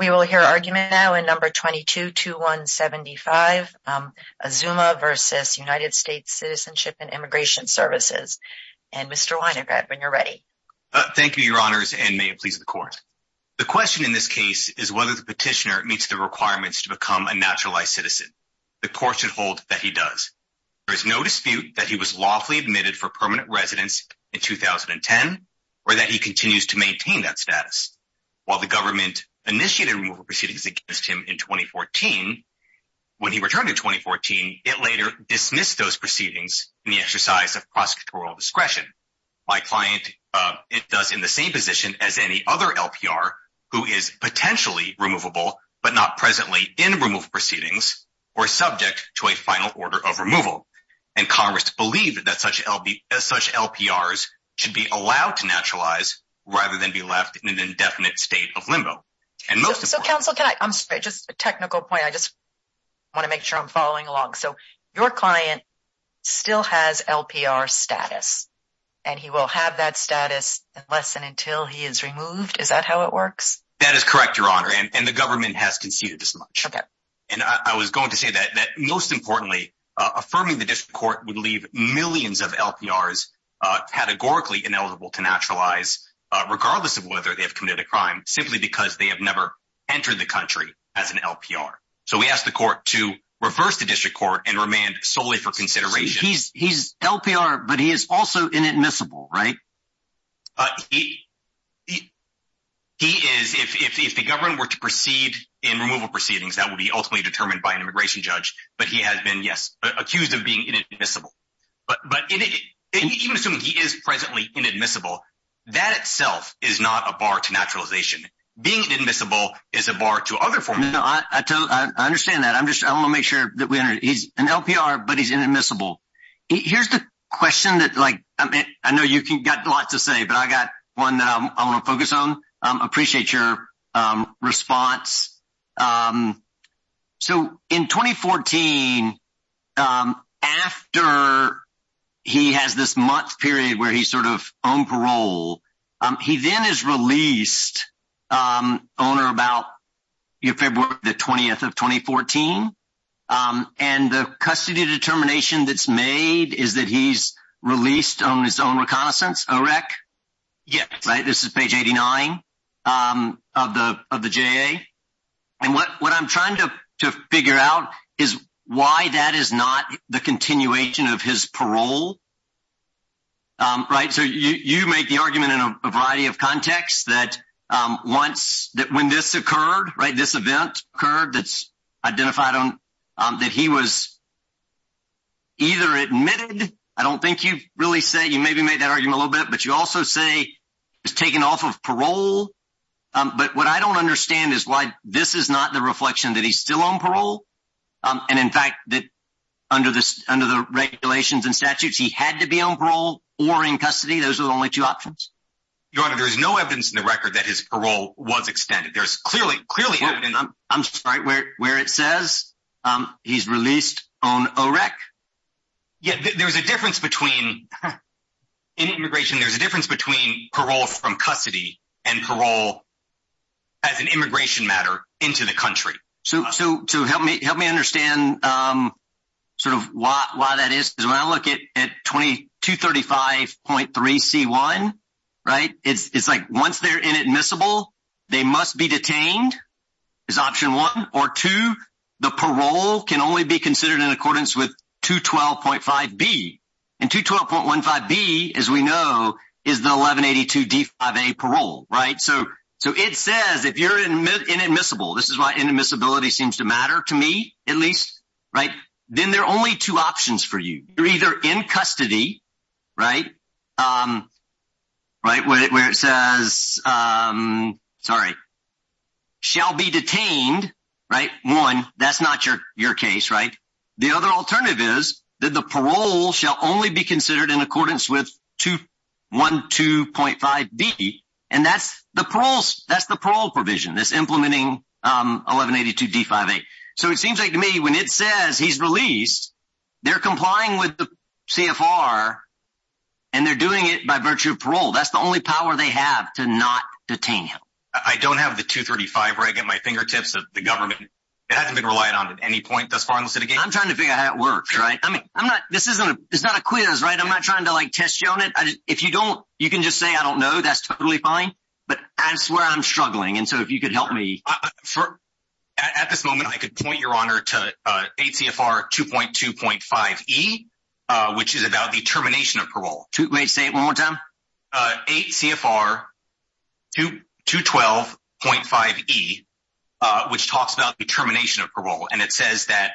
We will hear argument now in number 222175, Azumah versus United States Citizenship and Immigration Services. And Mr. Winograd, when you're ready. Thank you, your honors, and may it please the court. The question in this case is whether the petitioner meets the requirements to become a naturalized citizen. The court should hold that he does. There is no dispute that he was lawfully admitted for permanent residence in 2010 or that he continues to maintain that status. While the government initiated removal proceedings against him in 2014, when he returned in 2014, it later dismissed those proceedings in the exercise of prosecutorial discretion. My client, it does in the same position as any other LPR who is potentially removable, but not presently in removal proceedings, or subject to a final order of removal. And Congress believed that such LPRs should be allowed to naturalize rather than be left in an indefinite state of limbo. And most of the counsel can I just a technical point, I just want to make sure I'm following along. So your client still has LPR status, and he will have that status less than until he is removed. Is that how it works? That is correct, your honor, and the government has conceded as much. And I was going to say that most importantly, affirming the district court would leave millions of LPRs, categorically ineligible to naturalize, regardless of whether they've committed a crime simply because they have never entered the country as an LPR. So we asked the court to reverse the district court and remand solely for consideration. He's LPR, but he is also inadmissible, right? He is, if the government were to proceed in removal proceedings, that would be ultimately determined by an immigration judge. But he has been, yes, accused of being inadmissible. But even assuming he is presently inadmissible, that itself is not a bar to naturalization. Being inadmissible is a bar to other forms. I understand that. I'm just, I want to make sure that we are, he's an LPR, but he's inadmissible. Here's the question that like, I mean, I know you can get lots to say, but I got one that I want to focus on. Appreciate your response. So in 2014, after he has this month period where he's sort of on parole, he then is released on or about February the 20th of 2014. And the custody determination that's made is that he's released on his own reconnaissance, OREC. Yes, right. This is page 89 of the, of the and what, what I'm trying to, to figure out is why that is not the continuation of his parole. Right. So you, you make the argument in a variety of contexts that once that when this occurred, right, this event occurred, that's identified on that he was either admitted. I don't think you really say you maybe made that argument a little bit, but you also say it's taken off of parole. But what I don't understand is why this is not the reflection that he's still on parole. And in fact, that under this, under the regulations and statutes, he had to be on parole or in custody. Those are the only two options. Your honor, there is no evidence in the record that his parole was extended. There's clearly, clearly, I'm sorry, where, where it says he's released on OREC. Yeah, there was a difference between in immigration, there's a difference between parole from custody and parole as an immigration matter into the country. So, so to help me, help me understand sort of why, why that is, because when I look at, at 2235.3 C1, right, it's, it's like once they're inadmissible, they must be detained is option one or two. The parole can only be considered in accordance with 212.5 B. And 212.15 B, as we know, is the 1182 D5A parole, right? So, so it says if you're inadmissible, this is why inadmissibility seems to matter to me, at least, right? Then there are only two options for you. You're either in custody, right? Right, where it says, sorry, shall be detained, right? One, that's not your, your case, right? The other alternative is that the parole shall only be considered in accordance with 212.5 B. And that's the parole, that's the parole provision that's implementing 1182 D5A. So it seems like to me when it says he's released, they're complying with the CFR and they're doing it by virtue of parole. That's the only power they have to not detain him. I don't have the 235 where I get my fingertips of the government. It hasn't been relied on at any point thus far. I'm trying to figure out how it works, right? I mean, I'm not, this isn't, it's not a quiz, right? I'm not trying to like test you on it. If you don't, you can just say, I don't know, that's totally fine. But I swear I'm struggling. And so if you could help me. At this moment, I could point your honor to 8 CFR 2.2.5 E, which is about the termination of parole. Wait, say it one more time. 8 CFR 2.2.5 E, which talks about the termination of parole. And it says that,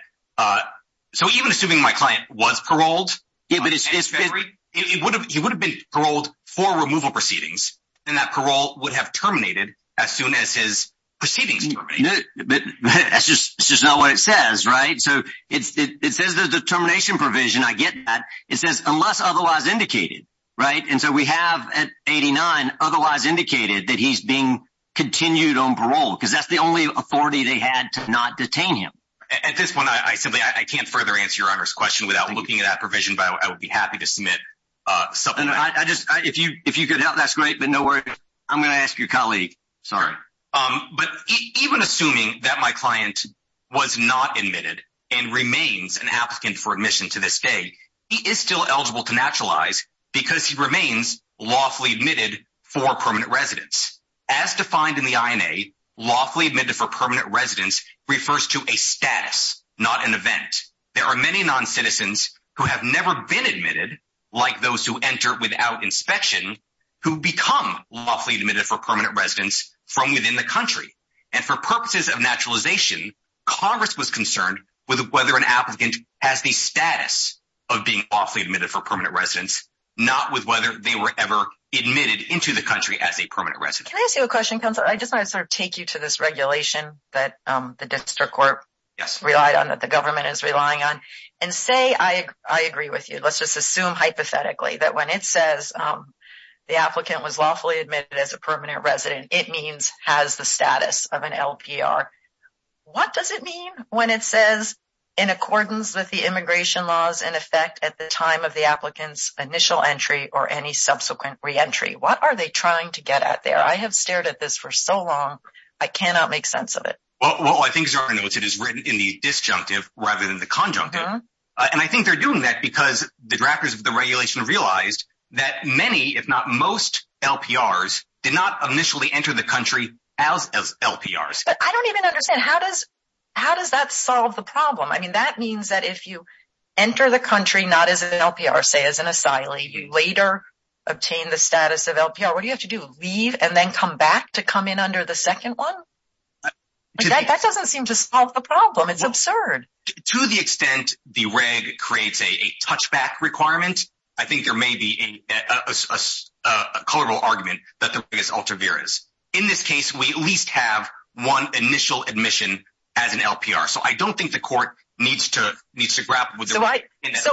so even assuming my client was paroled, he would have been paroled for removal proceedings. And that parole would have terminated as soon as his proceedings terminated. But that's just not what it says, right? So it says the determination provision, I get that. It says unless otherwise indicated, right? And so we have at 89 otherwise indicated that he's being continued on parole because that's the only authority they had to not detain him. At this point, I simply, I can't further answer your honor's question without looking at that provision, but I would be happy to submit something. I just, if you, if you could help, that's great, but no worries. I'm going to ask your colleague, sorry. But even assuming that my client was not admitted and remains an applicant for admission to this day, he is still eligible to naturalize because he remains lawfully admitted for permanent residence. As defined in the INA, lawfully admitted for permanent residence refers to a status, not an event. There are many non-citizens who have never been admitted, like those who enter without inspection, who become lawfully admitted for permanent residence from within the country. And for purposes of naturalization, Congress was concerned with whether an applicant has the status of being lawfully admitted for permanent residence, not with whether they were ever admitted into the country as a permanent resident. Can I ask you a question, counsel? I just want to sort of take you to this regulation that the district court relied on, that the government is relying on, and say, I agree with you. Let's just assume hypothetically that when it says the applicant was lawfully admitted as a permanent resident, it means has the status of an LPR. What does it mean when it says in accordance with the immigration laws in effect at the time of the applicant's initial entry or any subsequent re-entry? What are they trying to get at there? I have stared at this for so long, I cannot make sense of it. Well, I think it is written in the disjunctive rather than the conjunctive. And I think they're doing that because the drafters of regulation realized that many, if not most, LPRs did not initially enter the country as LPRs. I don't even understand. How does that solve the problem? I mean, that means that if you enter the country not as an LPR, say as an asylee, you later obtain the status of LPR. What do you have to do, leave and then come back to come in under the second one? That doesn't seem to solve the problem. It's absurd. To the extent the reg creates a touchback requirement, I think there may be a colorable argument that the reg is ultra-virus. In this case, we at least have one initial admission as an LPR. So I don't think the court needs to grapple with it in that context.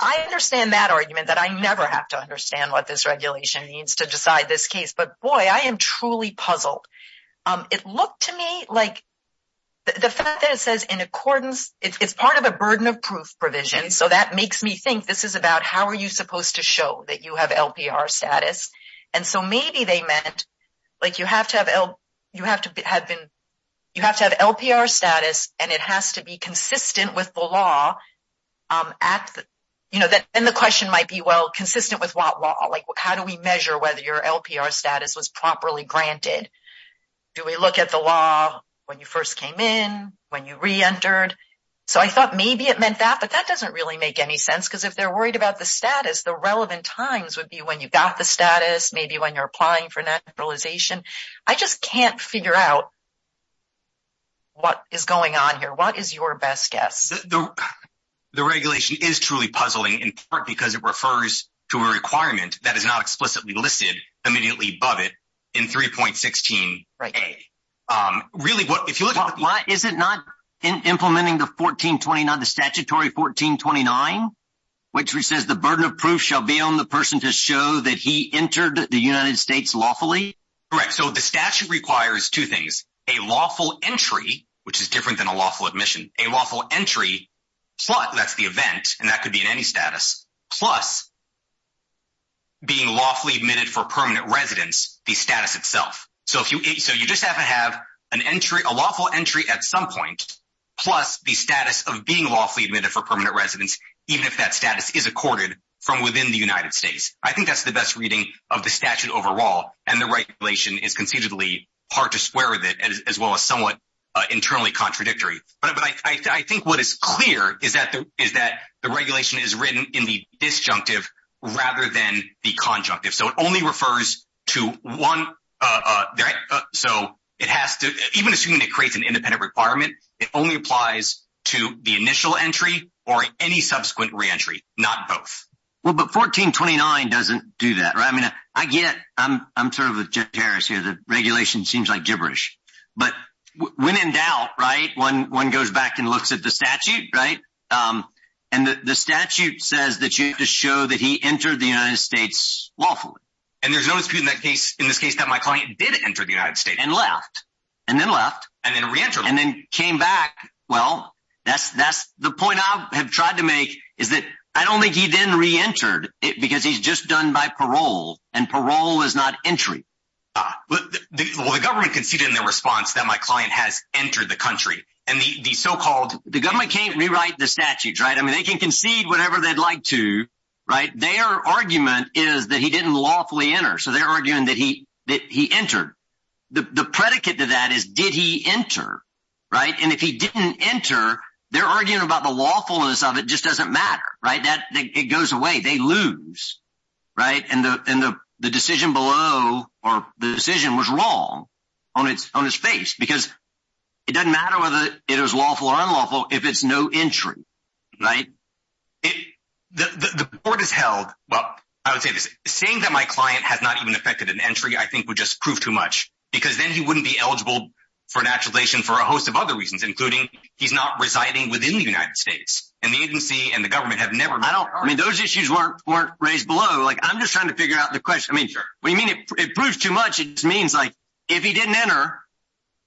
I understand that argument that I never have to understand what this regulation means to decide this case. But boy, I am truly puzzled. It looked to me like the fact that it says in accordance, it's part of a burden of proof provision. So that makes me think this is about how are you supposed to show that you have LPR status. And so maybe they meant like you have to have L, you have to have been, you have to have LPR status and it has to be consistent with the law at the, you know, then the question might be, well, consistent with what law? Like how do we measure whether your LPR status was properly granted? Do we look at the when you first came in, when you re-entered? So I thought maybe it meant that, but that doesn't really make any sense because if they're worried about the status, the relevant times would be when you got the status, maybe when you're applying for naturalization. I just can't figure out what is going on here. What is your best guess? The regulation is truly puzzling in part because it refers to a requirement that is not explicitly listed immediately above it in 3.16a. Is it not in implementing the 1429, the statutory 1429, which says the burden of proof shall be on the person to show that he entered the United States lawfully? Correct. So the statute requires two things, a lawful entry, which is different than a lawful admission, a lawful entry, but that's the event and that could be in any status plus being lawfully admitted for permanent residence, the status itself. So you just have to have a lawful entry at some point, plus the status of being lawfully admitted for permanent residence, even if that status is accorded from within the United States. I think that's the best reading of the statute overall and the regulation is considerably hard to square with it as well as somewhat internally contradictory. But I think what is clear is that the regulation is written in the statute and it only refers to one. So it has to, even assuming it creates an independent requirement, it only applies to the initial entry or any subsequent re-entry, not both. Well, but 1429 doesn't do that, right? I mean, I get it. I'm sort of a jitterish here. The regulation seems like gibberish, but when in doubt, right, one goes back and looks at the statute, right? And the statute says that you have to show that he entered the United States lawfully. And there's no dispute in this case that my client did enter the United States. And left. And then left. And then re-entered. And then came back. Well, that's the point I have tried to make is that I don't think he then re-entered because he's just done by parole and parole is not entry. Well, the government conceded in their response that my client has They can concede whatever they'd like to, right? Their argument is that he didn't lawfully enter. So they're arguing that he entered. The predicate to that is, did he enter, right? And if he didn't enter, they're arguing about the lawfulness of it just doesn't matter, right? It goes away. They lose, right? And the decision below or the decision was wrong on its face because it doesn't matter whether it was lawful or unlawful if it's no entry, right? The court has held. Well, I would say this saying that my client has not even affected an entry, I think would just prove too much because then he wouldn't be eligible for naturalization for a host of other reasons, including he's not residing within the United States and the agency and the government have never. I don't mean those issues weren't raised below. Like I'm just trying to figure out the question. I mean, what do you mean it proves too much? It means like if he didn't enter,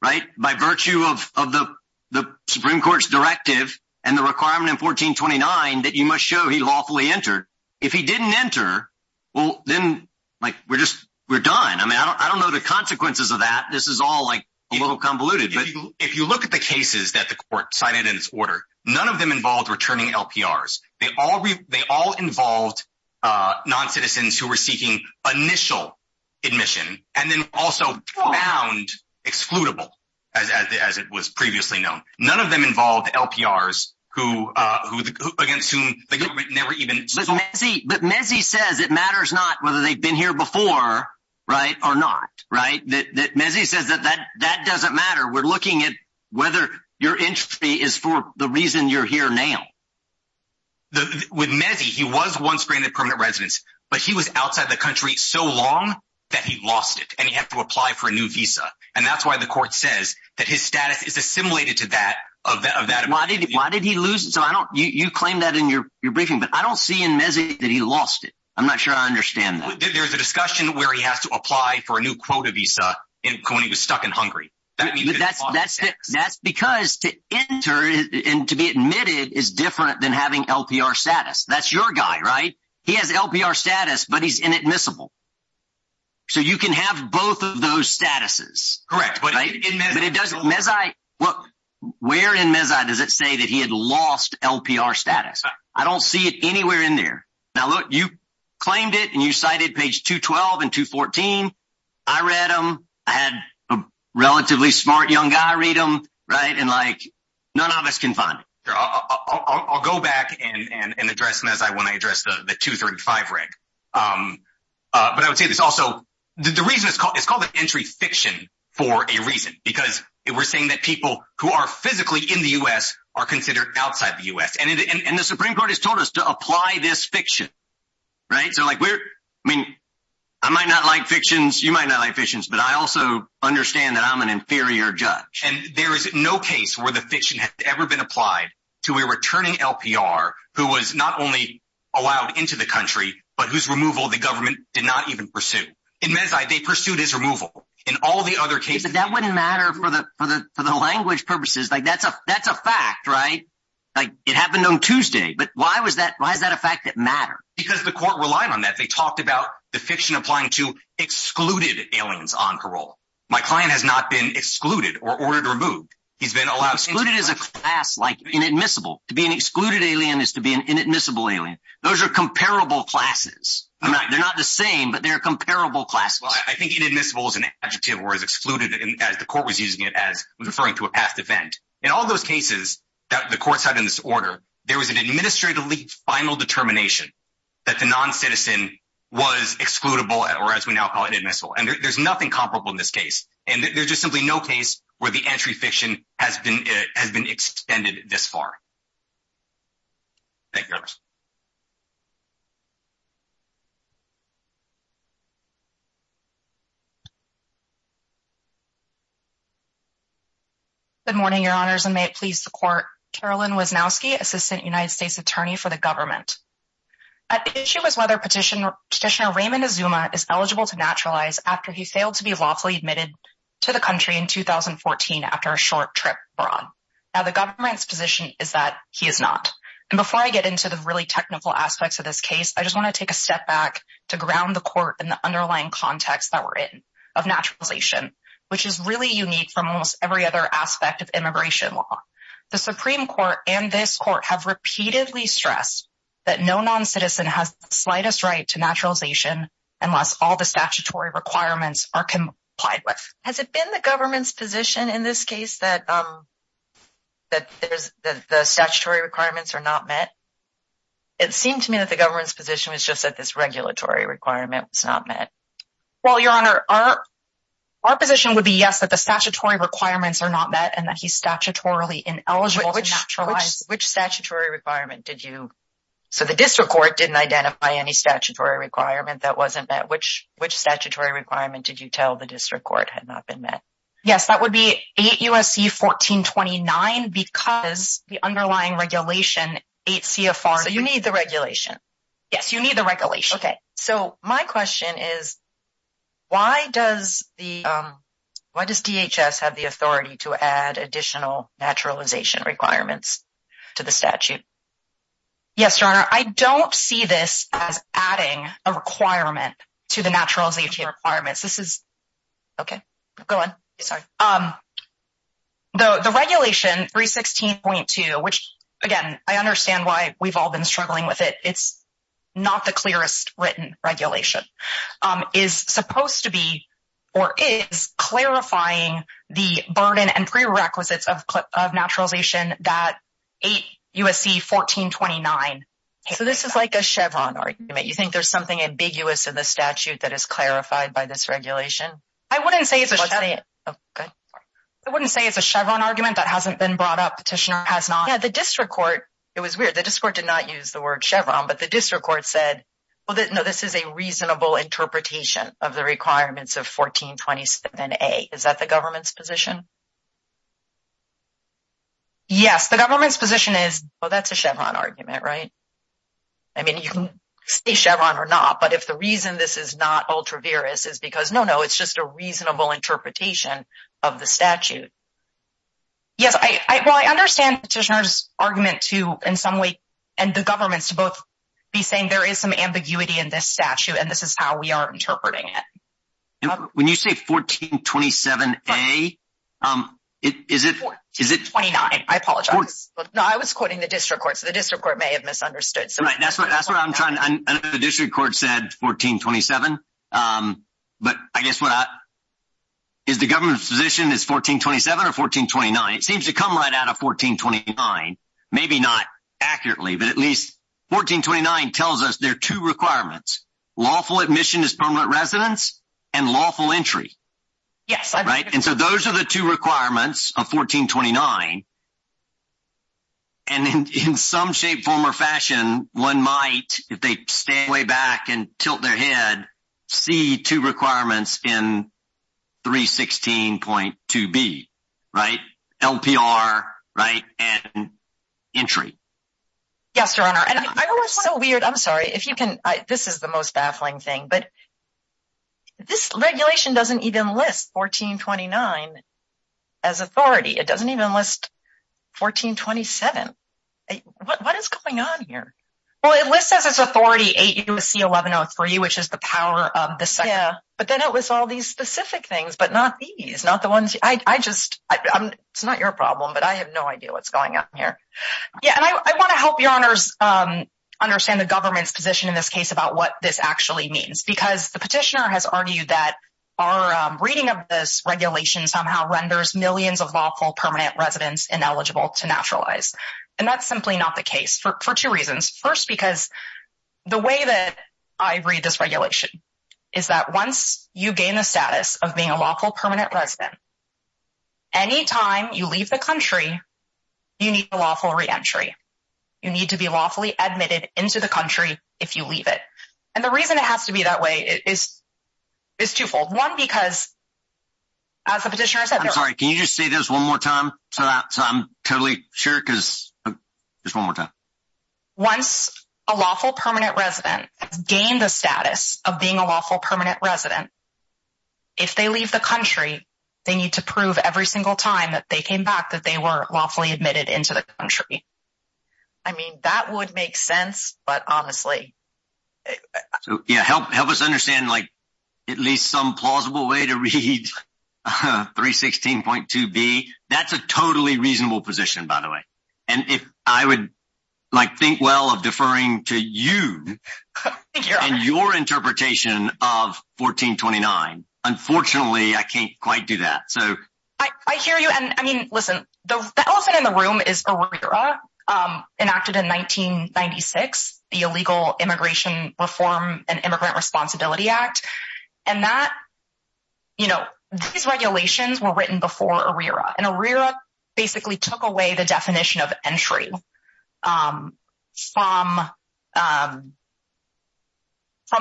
right, by virtue of the Supreme Court's directive and the requirement in 1429, that you must show he lawfully entered. If he didn't enter, well, then like we're just, we're done. I mean, I don't know the consequences of that. This is all like a little convoluted, but if you look at the cases that the court cited in its order, none of them involved returning LPRs. They all, they all involved non-citizens who were seeking initial admission and then also found excludable as it was previously known. None of them involved LPRs who against whom the government never even... But Mezzi says it matters not whether they've been here before, right, or not, right? Mezzi says that that doesn't matter. We're looking at whether your entry is for the reason you're here now. With Mezzi, he was once granted permanent residence, but he was outside the country so long that he lost it and he had to apply for a new visa. And that's why the court says that his status is assimilated to that of that. Why did he, why did he lose it? So I don't, you claim that in your briefing, but I don't see in Mezzi that he lost it. I'm not sure I understand that. There's a discussion where he has to apply for a new quota visa when he was stuck in Hungary. That's because to enter and to be admitted is different than having LPR status. That's your guy, right? He has LPR status, but he's inadmissible. So you can have both of those statuses. Correct. But it doesn't, Mezzi, look, where in Mezzi does it say that he had lost LPR status? I don't see it anywhere in there. Now, look, you claimed it and you cited page 212 and 214. I read them. I had a relatively smart young guy read them, right? And like none of us can find it. I'll go back and address them as I want to address the 235 rank. But I would say this also, the reason it's called, it's called an entry fiction for a reason, because we're saying that people who are physically in the U.S. are considered outside the U.S. And the Supreme Court has told us to apply this fiction, right? So like we're, I mean, I might not like fictions, you might not like fictions, but I also understand that I'm an inferior judge. And there is no case where the fiction has ever been applied to a returning LPR who was not only allowed into the country, but whose removal the government did not even pursue. In Mezzi, they pursued his removal in all the other cases. But that wouldn't matter for the, for the, for the language purposes. Like that's a, that's a fact, right? Like it happened on Tuesday, but why was that, why is that a fact that matters? Because the court relied on that. They talked about the fiction applying to excluded aliens on parole. My client has not been excluded or ordered removed. He's been allowed- Excluded is a class like inadmissible. To be an excluded alien is to be an inadmissible alien. Those are comparable classes. They're not the same, but they're comparable classes. I think inadmissible is an adjective or is excluded as the court was using it as referring to a past event. In all those cases that the courts had in this order, there was an administratively final determination that the non-citizen was excludable or as we now call it inadmissible. And there's nothing comparable in this case. And there's just simply no case where the entry fiction has been, has been extended this far. Thank you. Good morning, your honors, and may it please the court. Carolyn Wisnowski, assistant United States attorney for the government. The issue is whether petitioner Raymond Azuma is eligible to naturalize after he failed to be lawfully admitted to the country in 2014 after a short trip abroad. Now the government's position is that he is not. And before I get into the really technical aspects of this case, I just want to take a step back to ground the court in the underlying context that we're in of naturalization, which is really unique from almost every other aspect of immigration law. The Supreme Court and this court have repeatedly stressed that no non-citizen has the slightest right to naturalization unless all the statutory requirements are complied with. Has it been the government's position in this case that the statutory requirements are not met? It seemed to me that the government's position was just that this regulatory requirement was not met. Well, your honor, our position would be yes, that the statutory requirements are not met and that he's statutorily ineligible to naturalize. Which statutory requirement did you, so the district court didn't identify any statutory requirement that wasn't met? Which statutory requirement did you tell the district court had not been met? Yes, that would be 8 U.S.C. 1429 because the underlying regulation 8 C.F.R. So you need the regulation? Yes, you need the regulation. Okay, so my question is, why does DHS have the authority to add additional naturalization requirements to the statute? Yes, your honor, I don't see this as adding a requirement to the naturalization requirements. This is, okay, go on, sorry. The regulation 316.2, which again, I understand why we've all been struggling with it, it's not the clearest written regulation, is supposed to be or is clarifying the burden and prerequisites of naturalization that 8 U.S.C. 1429. So this is like a Chevron argument. You think there's something ambiguous in the statute that is clarified by this regulation? I wouldn't say it's a Chevron argument that hasn't been brought up, petitioner has not. Yeah, the district court, it was weird, the district court did not use the word Chevron, but the district court said, well, no, this is a reasonable interpretation of the Is that the government's position? Yes, the government's position is, well, that's a Chevron argument, right? I mean, you can say Chevron or not, but if the reason this is not ultra-virus is because no, no, it's just a reasonable interpretation of the statute. Yes, well, I understand petitioner's argument to in some way, and the government's to both be saying there is some ambiguity in this statute, and this is how we are interpreting it. When you say 1427A, is it? 1429, I apologize. No, I was quoting the district court, so the district court may have misunderstood. That's what I'm trying to, I know the district court said 1427, but I guess what, is the government's position is 1427 or 1429? It seems to come right out of 1429, maybe not accurately, but at least 1429 tells us there are two requirements, lawful admission is permanent residence and lawful entry. Yes. Right? And so those are the two requirements of 1429. And in some shape, form or fashion, one might, if they stay way back and tilt their head, see two requirements in 316.2B, right? LPR, right? And entry. Yes, your honor. And I was so weird, I'm sorry, if you can, this is the most baffling thing, but this regulation doesn't even list 1429 as authority. It doesn't even list 1427. What is going on here? Well, it lists as its authority AUC1103, which is the power of the Senate. Yeah, but then it was all these specific things, but not these, not the ones, I just, it's not your problem, but I have no idea what's going on here. Yeah, and I want to help your honors understand the government's position in this case about what this actually means, because the petitioner has argued that our reading of this regulation somehow renders millions of lawful permanent residents ineligible to naturalize. And that's simply not the case for two reasons. First, because the way that I read this regulation is that once you gain the status of being a lawful permanent resident, anytime you leave the country, you need a lawful reentry. You need to be lawfully admitted into the country if you leave it. And the reason it has to be that is twofold. One, because as the petitioner said... I'm sorry, can you just say this one more time so that I'm totally sure? Because just one more time. Once a lawful permanent resident gained the status of being a lawful permanent resident, if they leave the country, they need to prove every single time that they came back that they were lawfully admitted into the country. I mean, that would make sense, but honestly... So yeah, help us understand at least some plausible way to read 316.2b. That's a totally reasonable position, by the way. And if I would think well of deferring to you and your interpretation of 1429. Unfortunately, I can't quite do that. I hear you. And I mean, listen, the elephant in the room is ARERA, enacted in 1996, the Illegal Immigration Reform and Immigrant Responsibility Act. And these regulations were written before ARERA. And ARERA basically took away the definition of entry from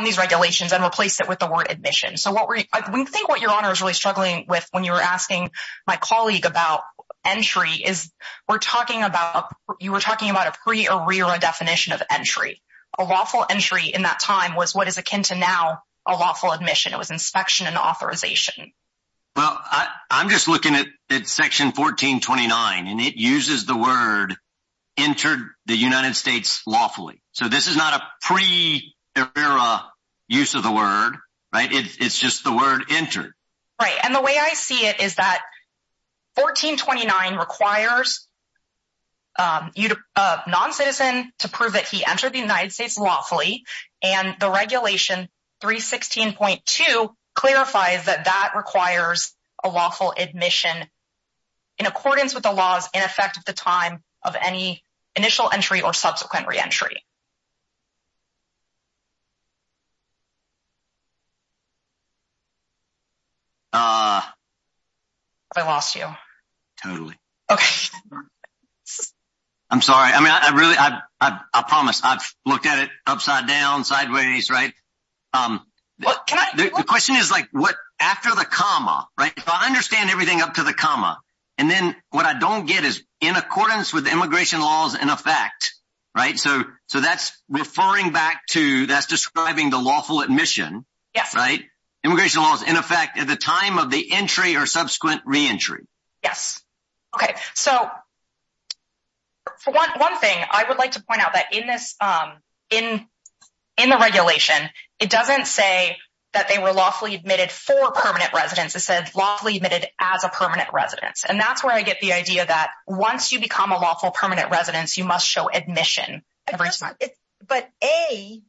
these regulations and replaced it with the word admission. So I think what your asking my colleague about entry is, you were talking about a pre-ARERA definition of entry. A lawful entry in that time was what is akin to now a lawful admission. It was inspection and authorization. Well, I'm just looking at section 1429, and it uses the word entered the United States lawfully. So this is not a pre-ARERA use of the word, right? It's just the word entered. Right. And the way I see it is that 1429 requires non-citizen to prove that he entered the United States lawfully. And the regulation 316.2 clarifies that that requires a lawful admission in accordance with the laws in effect at the time of any initial entry or subsequent re-entry. Have I lost you? Totally. Okay. I'm sorry. I mean, I really, I promise I've looked at it upside down sideways, right? The question is like what after the comma, right? If I understand everything up to the comma, and then what I don't get is in accordance with immigration laws in effect, right? So that's referring back to, that's describing the lawful admission. Right. Immigration laws in effect at the time of the entry or subsequent re-entry. Yes. Okay. So for one thing, I would like to point out that in this, in the regulation, it doesn't say that they were lawfully admitted for permanent residence. It says lawfully admitted as a permanent residence. And that's where I get the idea that once you become a lawful must show admission. But A,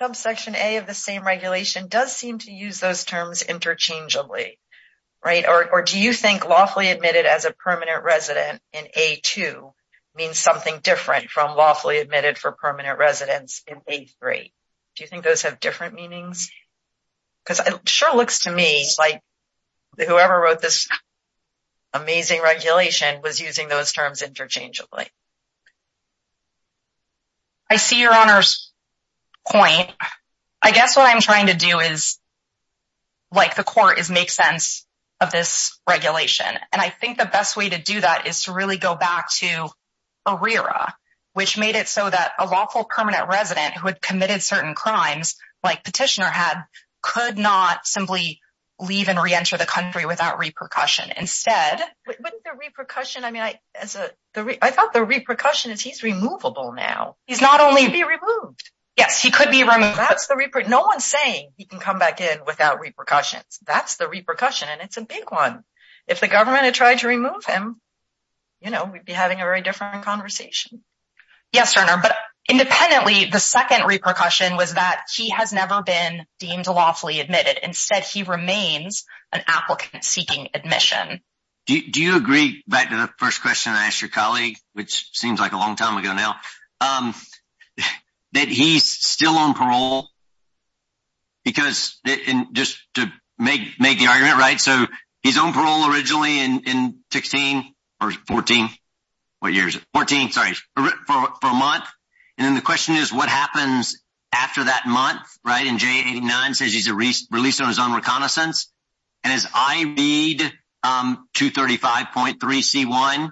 subsection A of the same regulation does seem to use those terms interchangeably, right? Or do you think lawfully admitted as a permanent resident in A2 means something different from lawfully admitted for permanent residence in A3? Do you think those have different meanings? Because it sure looks to me like whoever wrote this amazing regulation was using those terms interchangeably. I see your honor's point. I guess what I'm trying to do is like the court is make sense of this regulation. And I think the best way to do that is to really go back to ARERA, which made it so that a lawful permanent resident who had committed certain crimes like petitioner had, could not simply leave and re-enter the country without repercussion. Instead, wouldn't the repercussion, I mean, I thought the repercussion is he's removable now. He's not only be removed. Yes, he could be removed. No one's saying he can come back in without repercussions. That's the repercussion. And it's a big one. If the government had tried to remove him, we'd be having a very different conversation. Yes, your honor. But independently, the second repercussion was that he has never been deemed lawfully admitted. Instead, he remains an applicant seeking admission. Do you agree back to the first question I asked your colleague, which seems like a long time ago now, that he's still on parole? Because in just to make the argument, right, so he's on parole originally in 16 or 14, what year is it? 14, sorry, for a month. And then the question is what happens after that month, right? And J89 says he's released on his own reconnaissance. And as I read 235.3c1,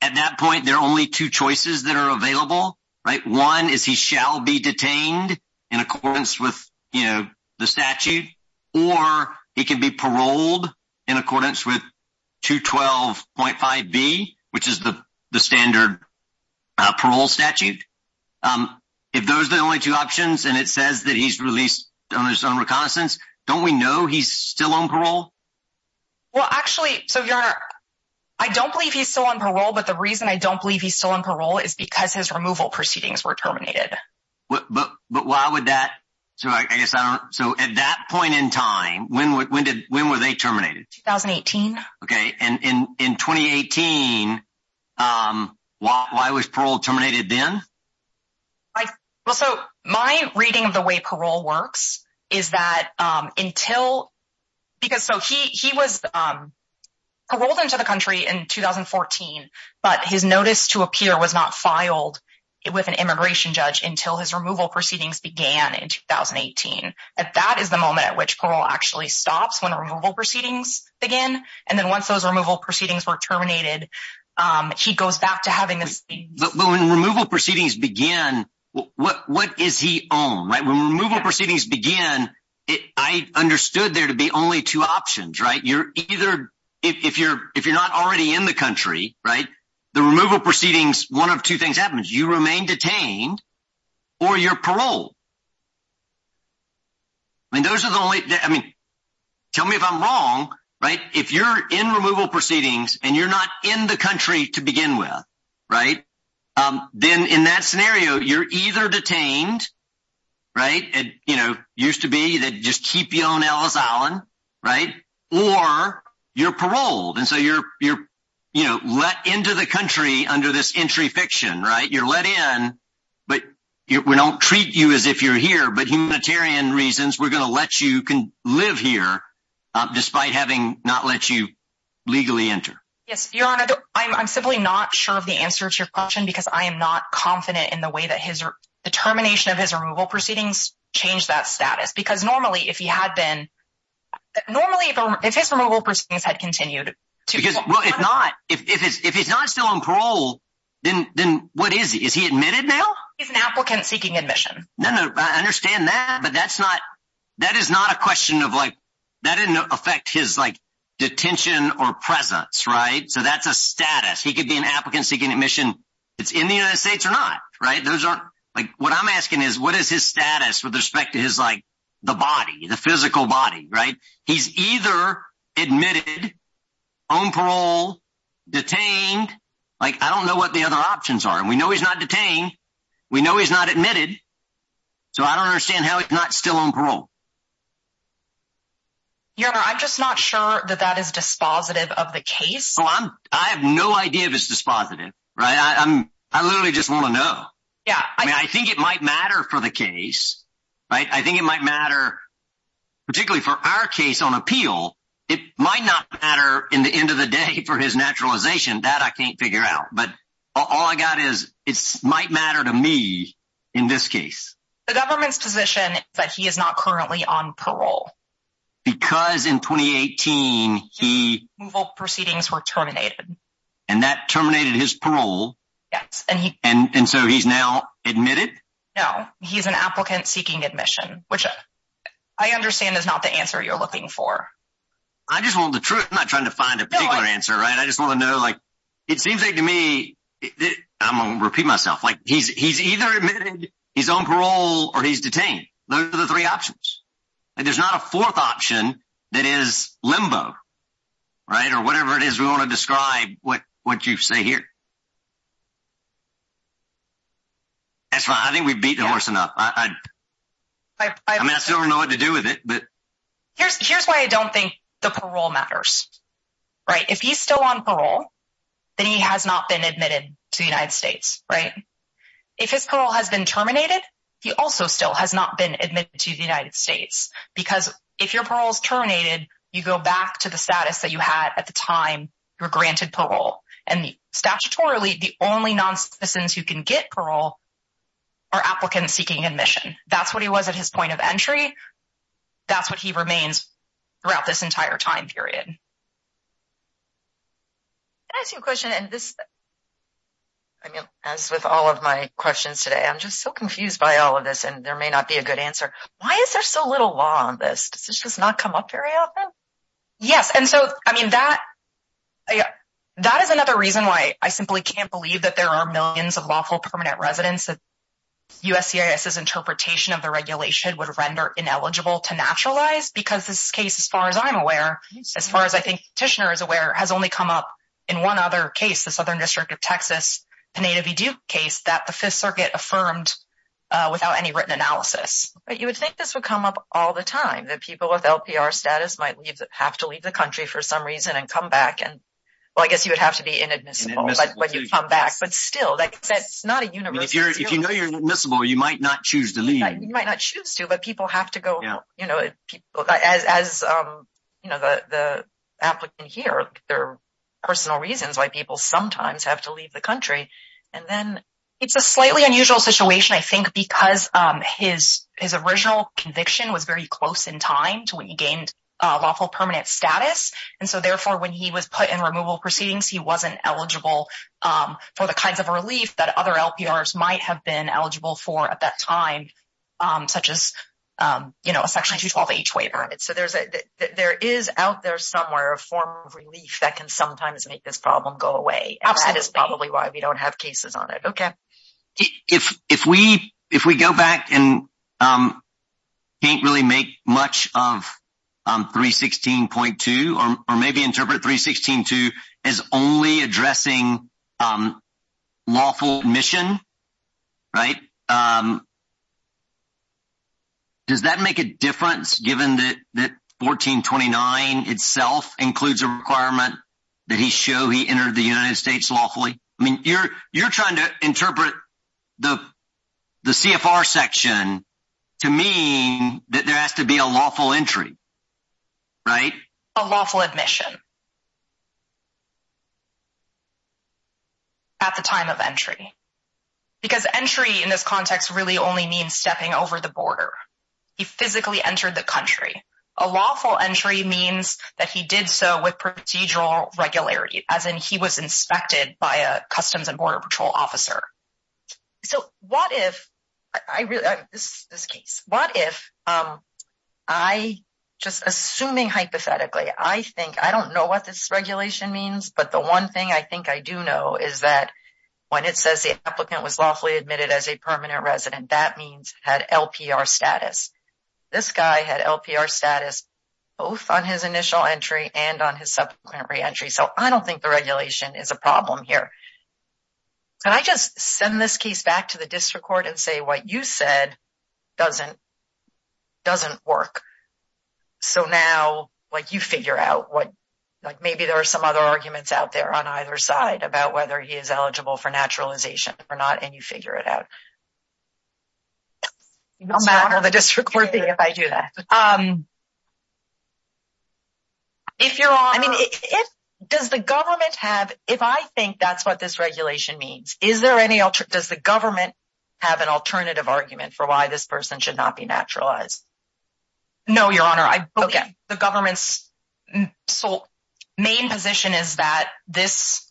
at that point, there are only two choices that are available, right? One is he shall be detained in accordance with the statute, or he can be paroled in accordance with 212.5b, which is the standard parole statute. If those are the only two options, and it says that he's released on his own reconnaissance, don't we know he's still on parole? Well, actually, so your honor, I don't believe he's still on parole. But the reason I don't believe he's still on parole is because his removal proceedings were terminated. But why would that? So at that point in time, when were they terminated? 2018. Okay. And in 2018, why was parole terminated then? Like, well, so my reading of the way parole works is that until because so he was paroled into the country in 2014. But his notice to appear was not filed with an immigration judge until his removal proceedings began in 2018. And that is the moment at which parole actually stops when removal proceedings begin. And then once those removal proceedings were terminated, he goes back to having the same. But when removal proceedings begin, what is he on? When removal proceedings begin, I understood there to be only two options, right? You're either, if you're not already in the country, right? The removal proceedings, one of two things happens, you remain detained, or you're paroled. I mean, those are the only, I mean, tell me if I'm wrong, right? If you're in removal proceedings, and you're not in the country to begin with, right? Then in that scenario, you're either detained, right? And, you know, used to be that just keep you on Ellis Island, right? Or you're paroled. And so you're, you're, you know, let into the country under this entry fiction, right? You're let in. But we don't treat you as if you're here. But humanitarian reasons, we're going to let you can live here, despite having not let you legally enter. Yes, Your Honor, I'm simply not sure of the answer to your question, because I am not confident in the way that his determination of his removal proceedings changed that status. Because normally, if he had been, normally, if his removal proceedings had continued. Because if not, if he's not still on parole, then what is he? Is he admitted now? He's an applicant seeking admission. No, no, I understand that. But that's not that is not a question of like, that didn't affect his like, detention or presence, right? So that's a status, he could be an applicant seeking admission. It's in the United States or not, right? Those are like, what I'm asking is, what is his status with respect to his like, the body, the physical body, right? He's either admitted on parole, detained, like, I don't know what the other options are. And we know he's not detained. We know he's not admitted. So I don't understand how it's not still on parole. Your Honor, I'm just not sure that that is dispositive of the case. So I'm, I have no idea if it's dispositive, right? I'm, I literally just want to know. Yeah, I mean, I think it might matter for the case. Right? I think it might matter. Particularly for our case on appeal, it might not matter in the end of the day for his naturalization that I can't figure out. But all I got is, it might matter to me, in this case. The government's position that he is not currently on parole. Because in 2018, he... Proceedings were terminated. And that terminated his parole. Yes, and he... And so he's now admitted? No, he's an applicant seeking admission, which I understand is not the answer you're looking for. I just want the truth. I'm not trying to find a particular answer, right? I just want to know, it seems like to me, I'm going to repeat myself, he's either admitted, he's on parole, or he's detained. Those are the three options. There's not a fourth option that is limbo, right? Or whatever it is we want to describe what you say here. That's fine. I think we've beat the horse enough. I mean, I still don't know what to do with it. Here's why I don't think the parole matters. Right? If he's still on parole, then he has not been admitted to the United States, right? If his parole has been terminated, he also still has not been admitted to the United States. Because if your parole is terminated, you go back to the status that you had at the time you were granted parole. And statutorily, the only non-citizens who can get parole are applicants seeking admission. That's what he was at his point of entry. That's what he remains throughout this entire time period. Can I ask you a question? As with all of my questions today, I'm just so confused by all of this, and there may not be a good answer. Why is there so little law on this? Does this just not come up very often? Yes. That is another reason why I simply can't believe that there are millions of lawful permanent residents that USCIS's interpretation of the regulation would render ineligible to naturalize. Because this case, as far as I'm think Tishner is aware, has only come up in one other case, the Southern District of Texas, the Native Educ case, that the Fifth Circuit affirmed without any written analysis. You would think this would come up all the time, that people with LPR status might have to leave the country for some reason and come back. Well, I guess you would have to be inadmissible when you come back. But still, that's not a universal rule. If you know you're inadmissible, you might not applicant here. There are personal reasons why people sometimes have to leave the country. It's a slightly unusual situation, I think, because his original conviction was very close in time to when he gained lawful permanent status. Therefore, when he was put in removal proceedings, he wasn't eligible for the kinds of relief that other LPRs might have been eligible for at that time, such as a Section 212H waiver. There is out there somewhere a form of relief that can sometimes make this problem go away. That is probably why we don't have cases on it. Okay. If we go back and can't really make much of 316.2 or maybe interpret 316.2 as only addressing lawful admission, does that make a difference given that 1429 itself includes a requirement that he show he entered the United States lawfully? I mean, you're trying to interpret the CFR section to mean that there has to be a lawful entry, right? A lawful admission at the time of entry, because entry in this context really only means stepping over the border. He physically entered the country. A lawful entry means that he did so with procedural regularity, as in he was inspected by a Customs and Border Patrol officer. So, what if I just assuming hypothetically, I think I don't know what this regulation means, but the one thing I think I do know is that when it says the applicant was lawfully admitted as a permanent resident, that means had LPR status. This guy had LPR status both on his initial entry and on his subsequent re-entry. So, I don't think the regulation is a problem here. Can I just send this case back to the district court and say what you said doesn't work? So, now you figure out what, maybe there are some other arguments out there on either side about whether he is eligible for naturalization or not, and you figure it out. No matter the district court thing, if I do that. Um, if your honor, I mean, does the government have, if I think that's what this regulation means, is there any, does the government have an alternative argument for why this person should not be naturalized? No, your honor, I believe the government's sole main position is that this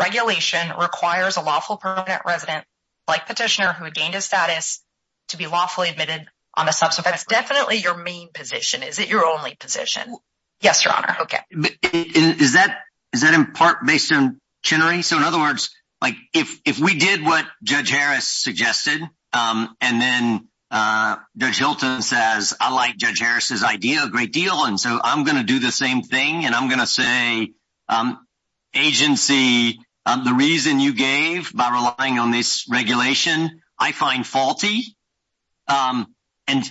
regulation requires a lawful permanent resident, like petitioner who had gained his position. Is it your only position? Yes, your honor. Okay. Is that, is that in part based on Chenery? So, in other words, like if, if we did what Judge Harris suggested, um, and then, uh, Judge Hilton says, I like Judge Harris's idea a great deal. And so, I'm going to do the same thing. And I'm going to say, um, agency, um, the reason you gave by relying on this regulation, I find faulty. Um, and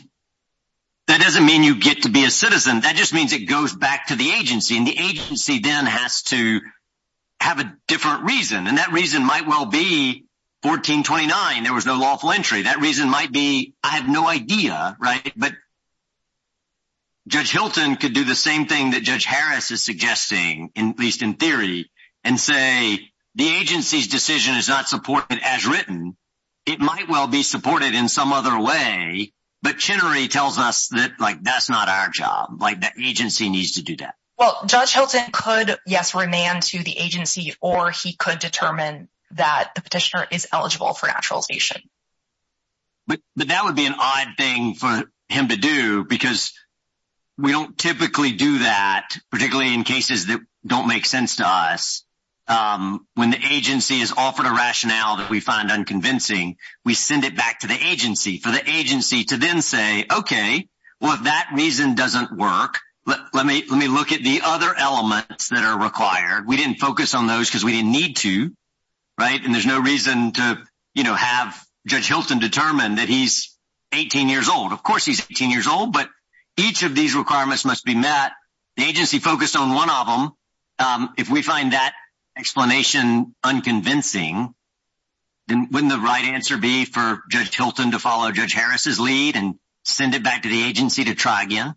that doesn't mean you get to be a citizen. That just means it goes back to the agency and the agency then has to have a different reason. And that reason might well be 1429. There was no lawful entry. That reason might be, I have no idea, right? But Judge Hilton could do the same thing that Judge Harris is suggesting, in, at least in theory, and say, the agency's decision is not supported as written. It might well be supported in some other way. But Chenery tells us that, like, that's not our job. Like the agency needs to do that. Well, Judge Hilton could, yes, remain to the agency, or he could determine that the petitioner is eligible for naturalization. But, but that would be an odd thing for him to do because we don't typically do that, particularly in cases that don't make sense to us. Um, when the agency is offered a rationale that we find unconvincing, we send it back to the agency for the agency to then say, okay, well, if that reason doesn't work, let me, let me look at the other elements that are required. We didn't focus on those because we didn't need to, right? And there's no reason to, you know, have Judge Hilton determine that he's 18 years old. Of course he's 18 years old, but each of these requirements must be met. The agency focused on one of them. If we find that explanation unconvincing, then wouldn't the right answer be for Judge Hilton to follow Judge Harris's lead and send it back to the agency to try again?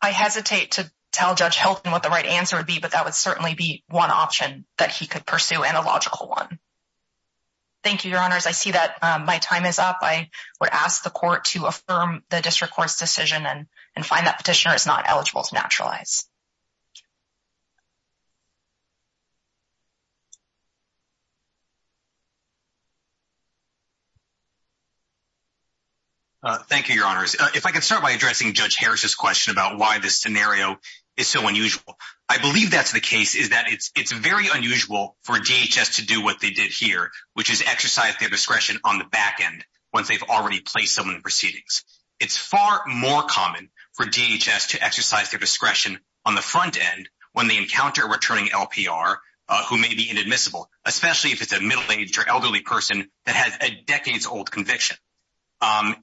I hesitate to tell Judge Hilton what the right answer would be, but that would certainly be one option that he could pursue, and a logical one. Thank you, Your Honors. I see that my time is up. I would ask the court to affirm the district court's decision and find that petitioner is not eligible to naturalize. Thank you, Your Honors. If I could start by addressing Judge Harris's question about why this scenario is so unusual. I believe that's the case, is that it's very unusual for DHS to do what they did here, which is exercise their discretion on the back end once they've already placed someone in proceedings. It's far more common for DHS to exercise their discretion on the front end when they encounter a returning LPR who may be inadmissible, especially if it's a middle-aged or elderly person that has a decades-old conviction.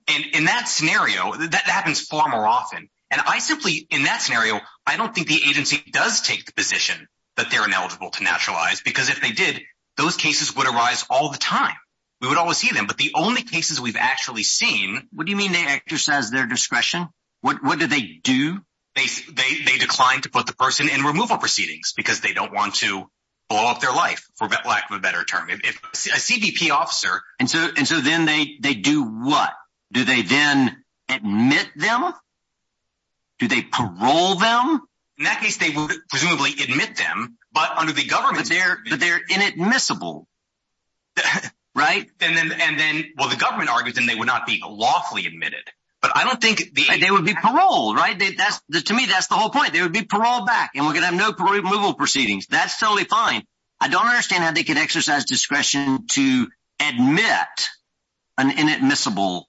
In that scenario, that happens far more often. And I simply, in that scenario, I don't think the agency does take the position that they're ineligible to naturalize, because if they did, those cases would arise all the time. We would always see them. But the only cases we've actually seen... What do you mean they exercise their discretion? What do they do? They decline to put the person in removal proceedings because they don't want to blow up their life, for lack of a better term. If a CBP officer... And so then they do what? Do they then admit them? Do they parole them? In that case, they would presumably admit them, but under the government... But they're inadmissible, right? And then, well, the government argues, and they would not be lawfully admitted. But I don't think... They would be paroled, right? To me, that's the whole point. They would be paroled back, and we're going to have no removal proceedings. That's totally fine. I don't understand how they could exercise discretion to admit an inadmissible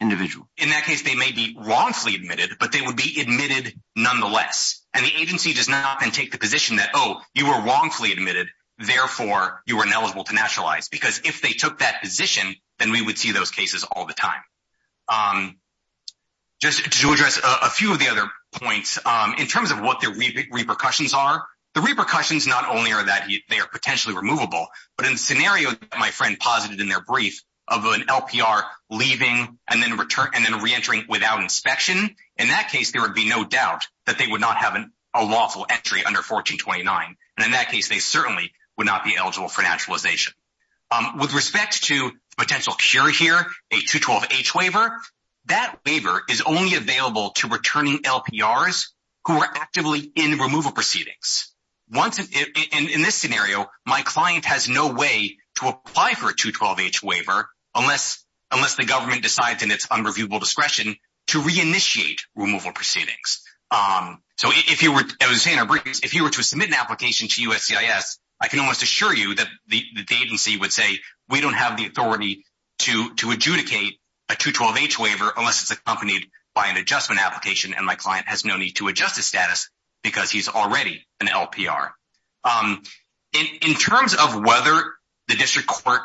individual. In that case, they may be wrongfully admitted, but they would be admitted nonetheless. And the agency does not then take the position that, oh, you were wrongfully admitted, therefore you were ineligible to nationalize. Because if they took that position, then we would see those cases all the time. Just to address a few of the other points, in terms of what the repercussions are, the repercussions not only are that they are potentially removable, but in the scenario that my friend posited in their brief of an LPR leaving and then reentering without inspection, in that case, there would be no doubt that they would not have a lawful entry under 1429. And in that case, they certainly would not be eligible for naturalization. With respect to the potential cure here, a 212H waiver, that waiver is only available to returning LPRs who are actively in removal proceedings. In this scenario, my client has no way to apply for a 212H waiver unless the government decides in its unreviewable discretion to reinitiate removal proceedings. So if you were to submit an application to USCIS, I can almost assure you that the agency would say, we don't have the authority to adjudicate a 212H waiver unless it's accompanied by an adjustment application, and my client has no LPR. In terms of whether the district court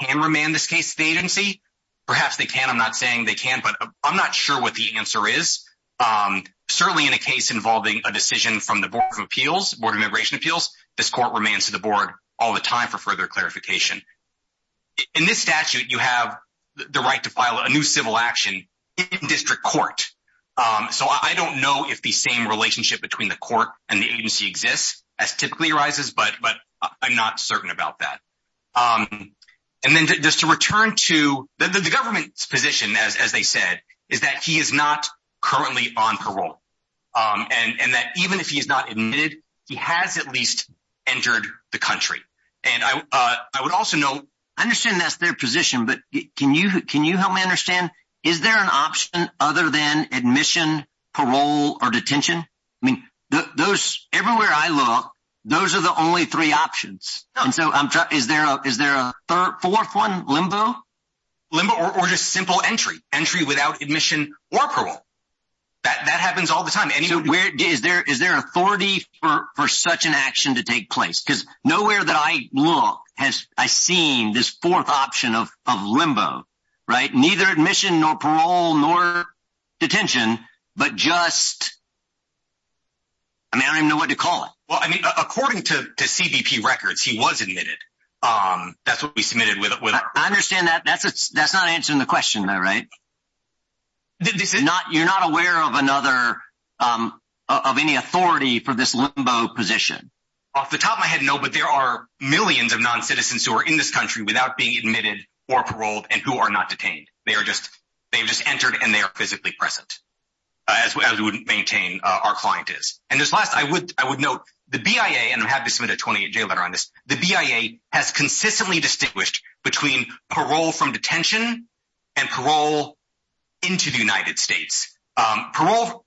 can remand this case to the agency, perhaps they can. I'm not saying they can, but I'm not sure what the answer is. Certainly in a case involving a decision from the Board of Appeals, the Board of Immigration Appeals, this court remands to the board all the time for further clarification. In this statute, you have the right to file a new civil action in district court. So I don't know if the same relationship between the court and the agency exists as typically arises, but I'm not certain about that. The government's position, as they said, is that he is not currently on parole, and that even if he is not admitted, he has at least entered the country. I understand that's their position, but can you help me understand, is there an option other than admission, parole, or detention? Everywhere I look, those are the only three options. Is there a fourth one, limbo? Limbo or just simple entry. Entry without admission or parole. That happens all the time. Is there authority for such an action to take place? Because nowhere that I look has I seen this fourth option of limbo. Neither admission, nor parole, nor detention, but just... I mean, I don't even know what to call it. Well, I mean, according to CBP records, he was admitted. That's what we submitted with our... I understand that. That's not answering the question though, right? You're not aware of any authority for this limbo position? Off the top of my head, no, but there are millions of non-citizens who are in this country without being admitted, or paroled, and who are not detained. They've just entered and they are physically present, as we would maintain our client is. And just last, I would note the BIA, and I'm happy to submit a 28-J letter on this, the BIA has consistently distinguished between parole from detention and parole into the United States. Parole,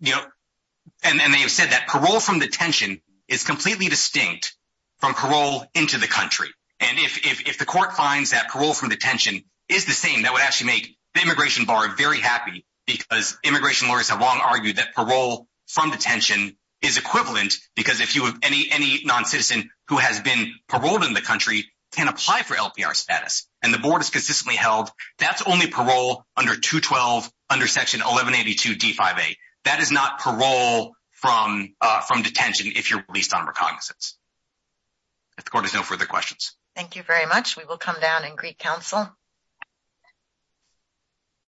and they have said that parole from detention is completely distinct from parole into the country. And if the court finds that parole from detention is the same, that would actually make the immigration bar very happy, because immigration lawyers have long argued that parole from detention is equivalent, because any non-citizen who has been paroled in the country can apply for LPR status. And the board has consistently held that's only parole under 212, under section 1182 D5A. That is not parole from detention if you're released on recognizance. If the court has no further questions. Thank you very much. We will come down in Greek Council.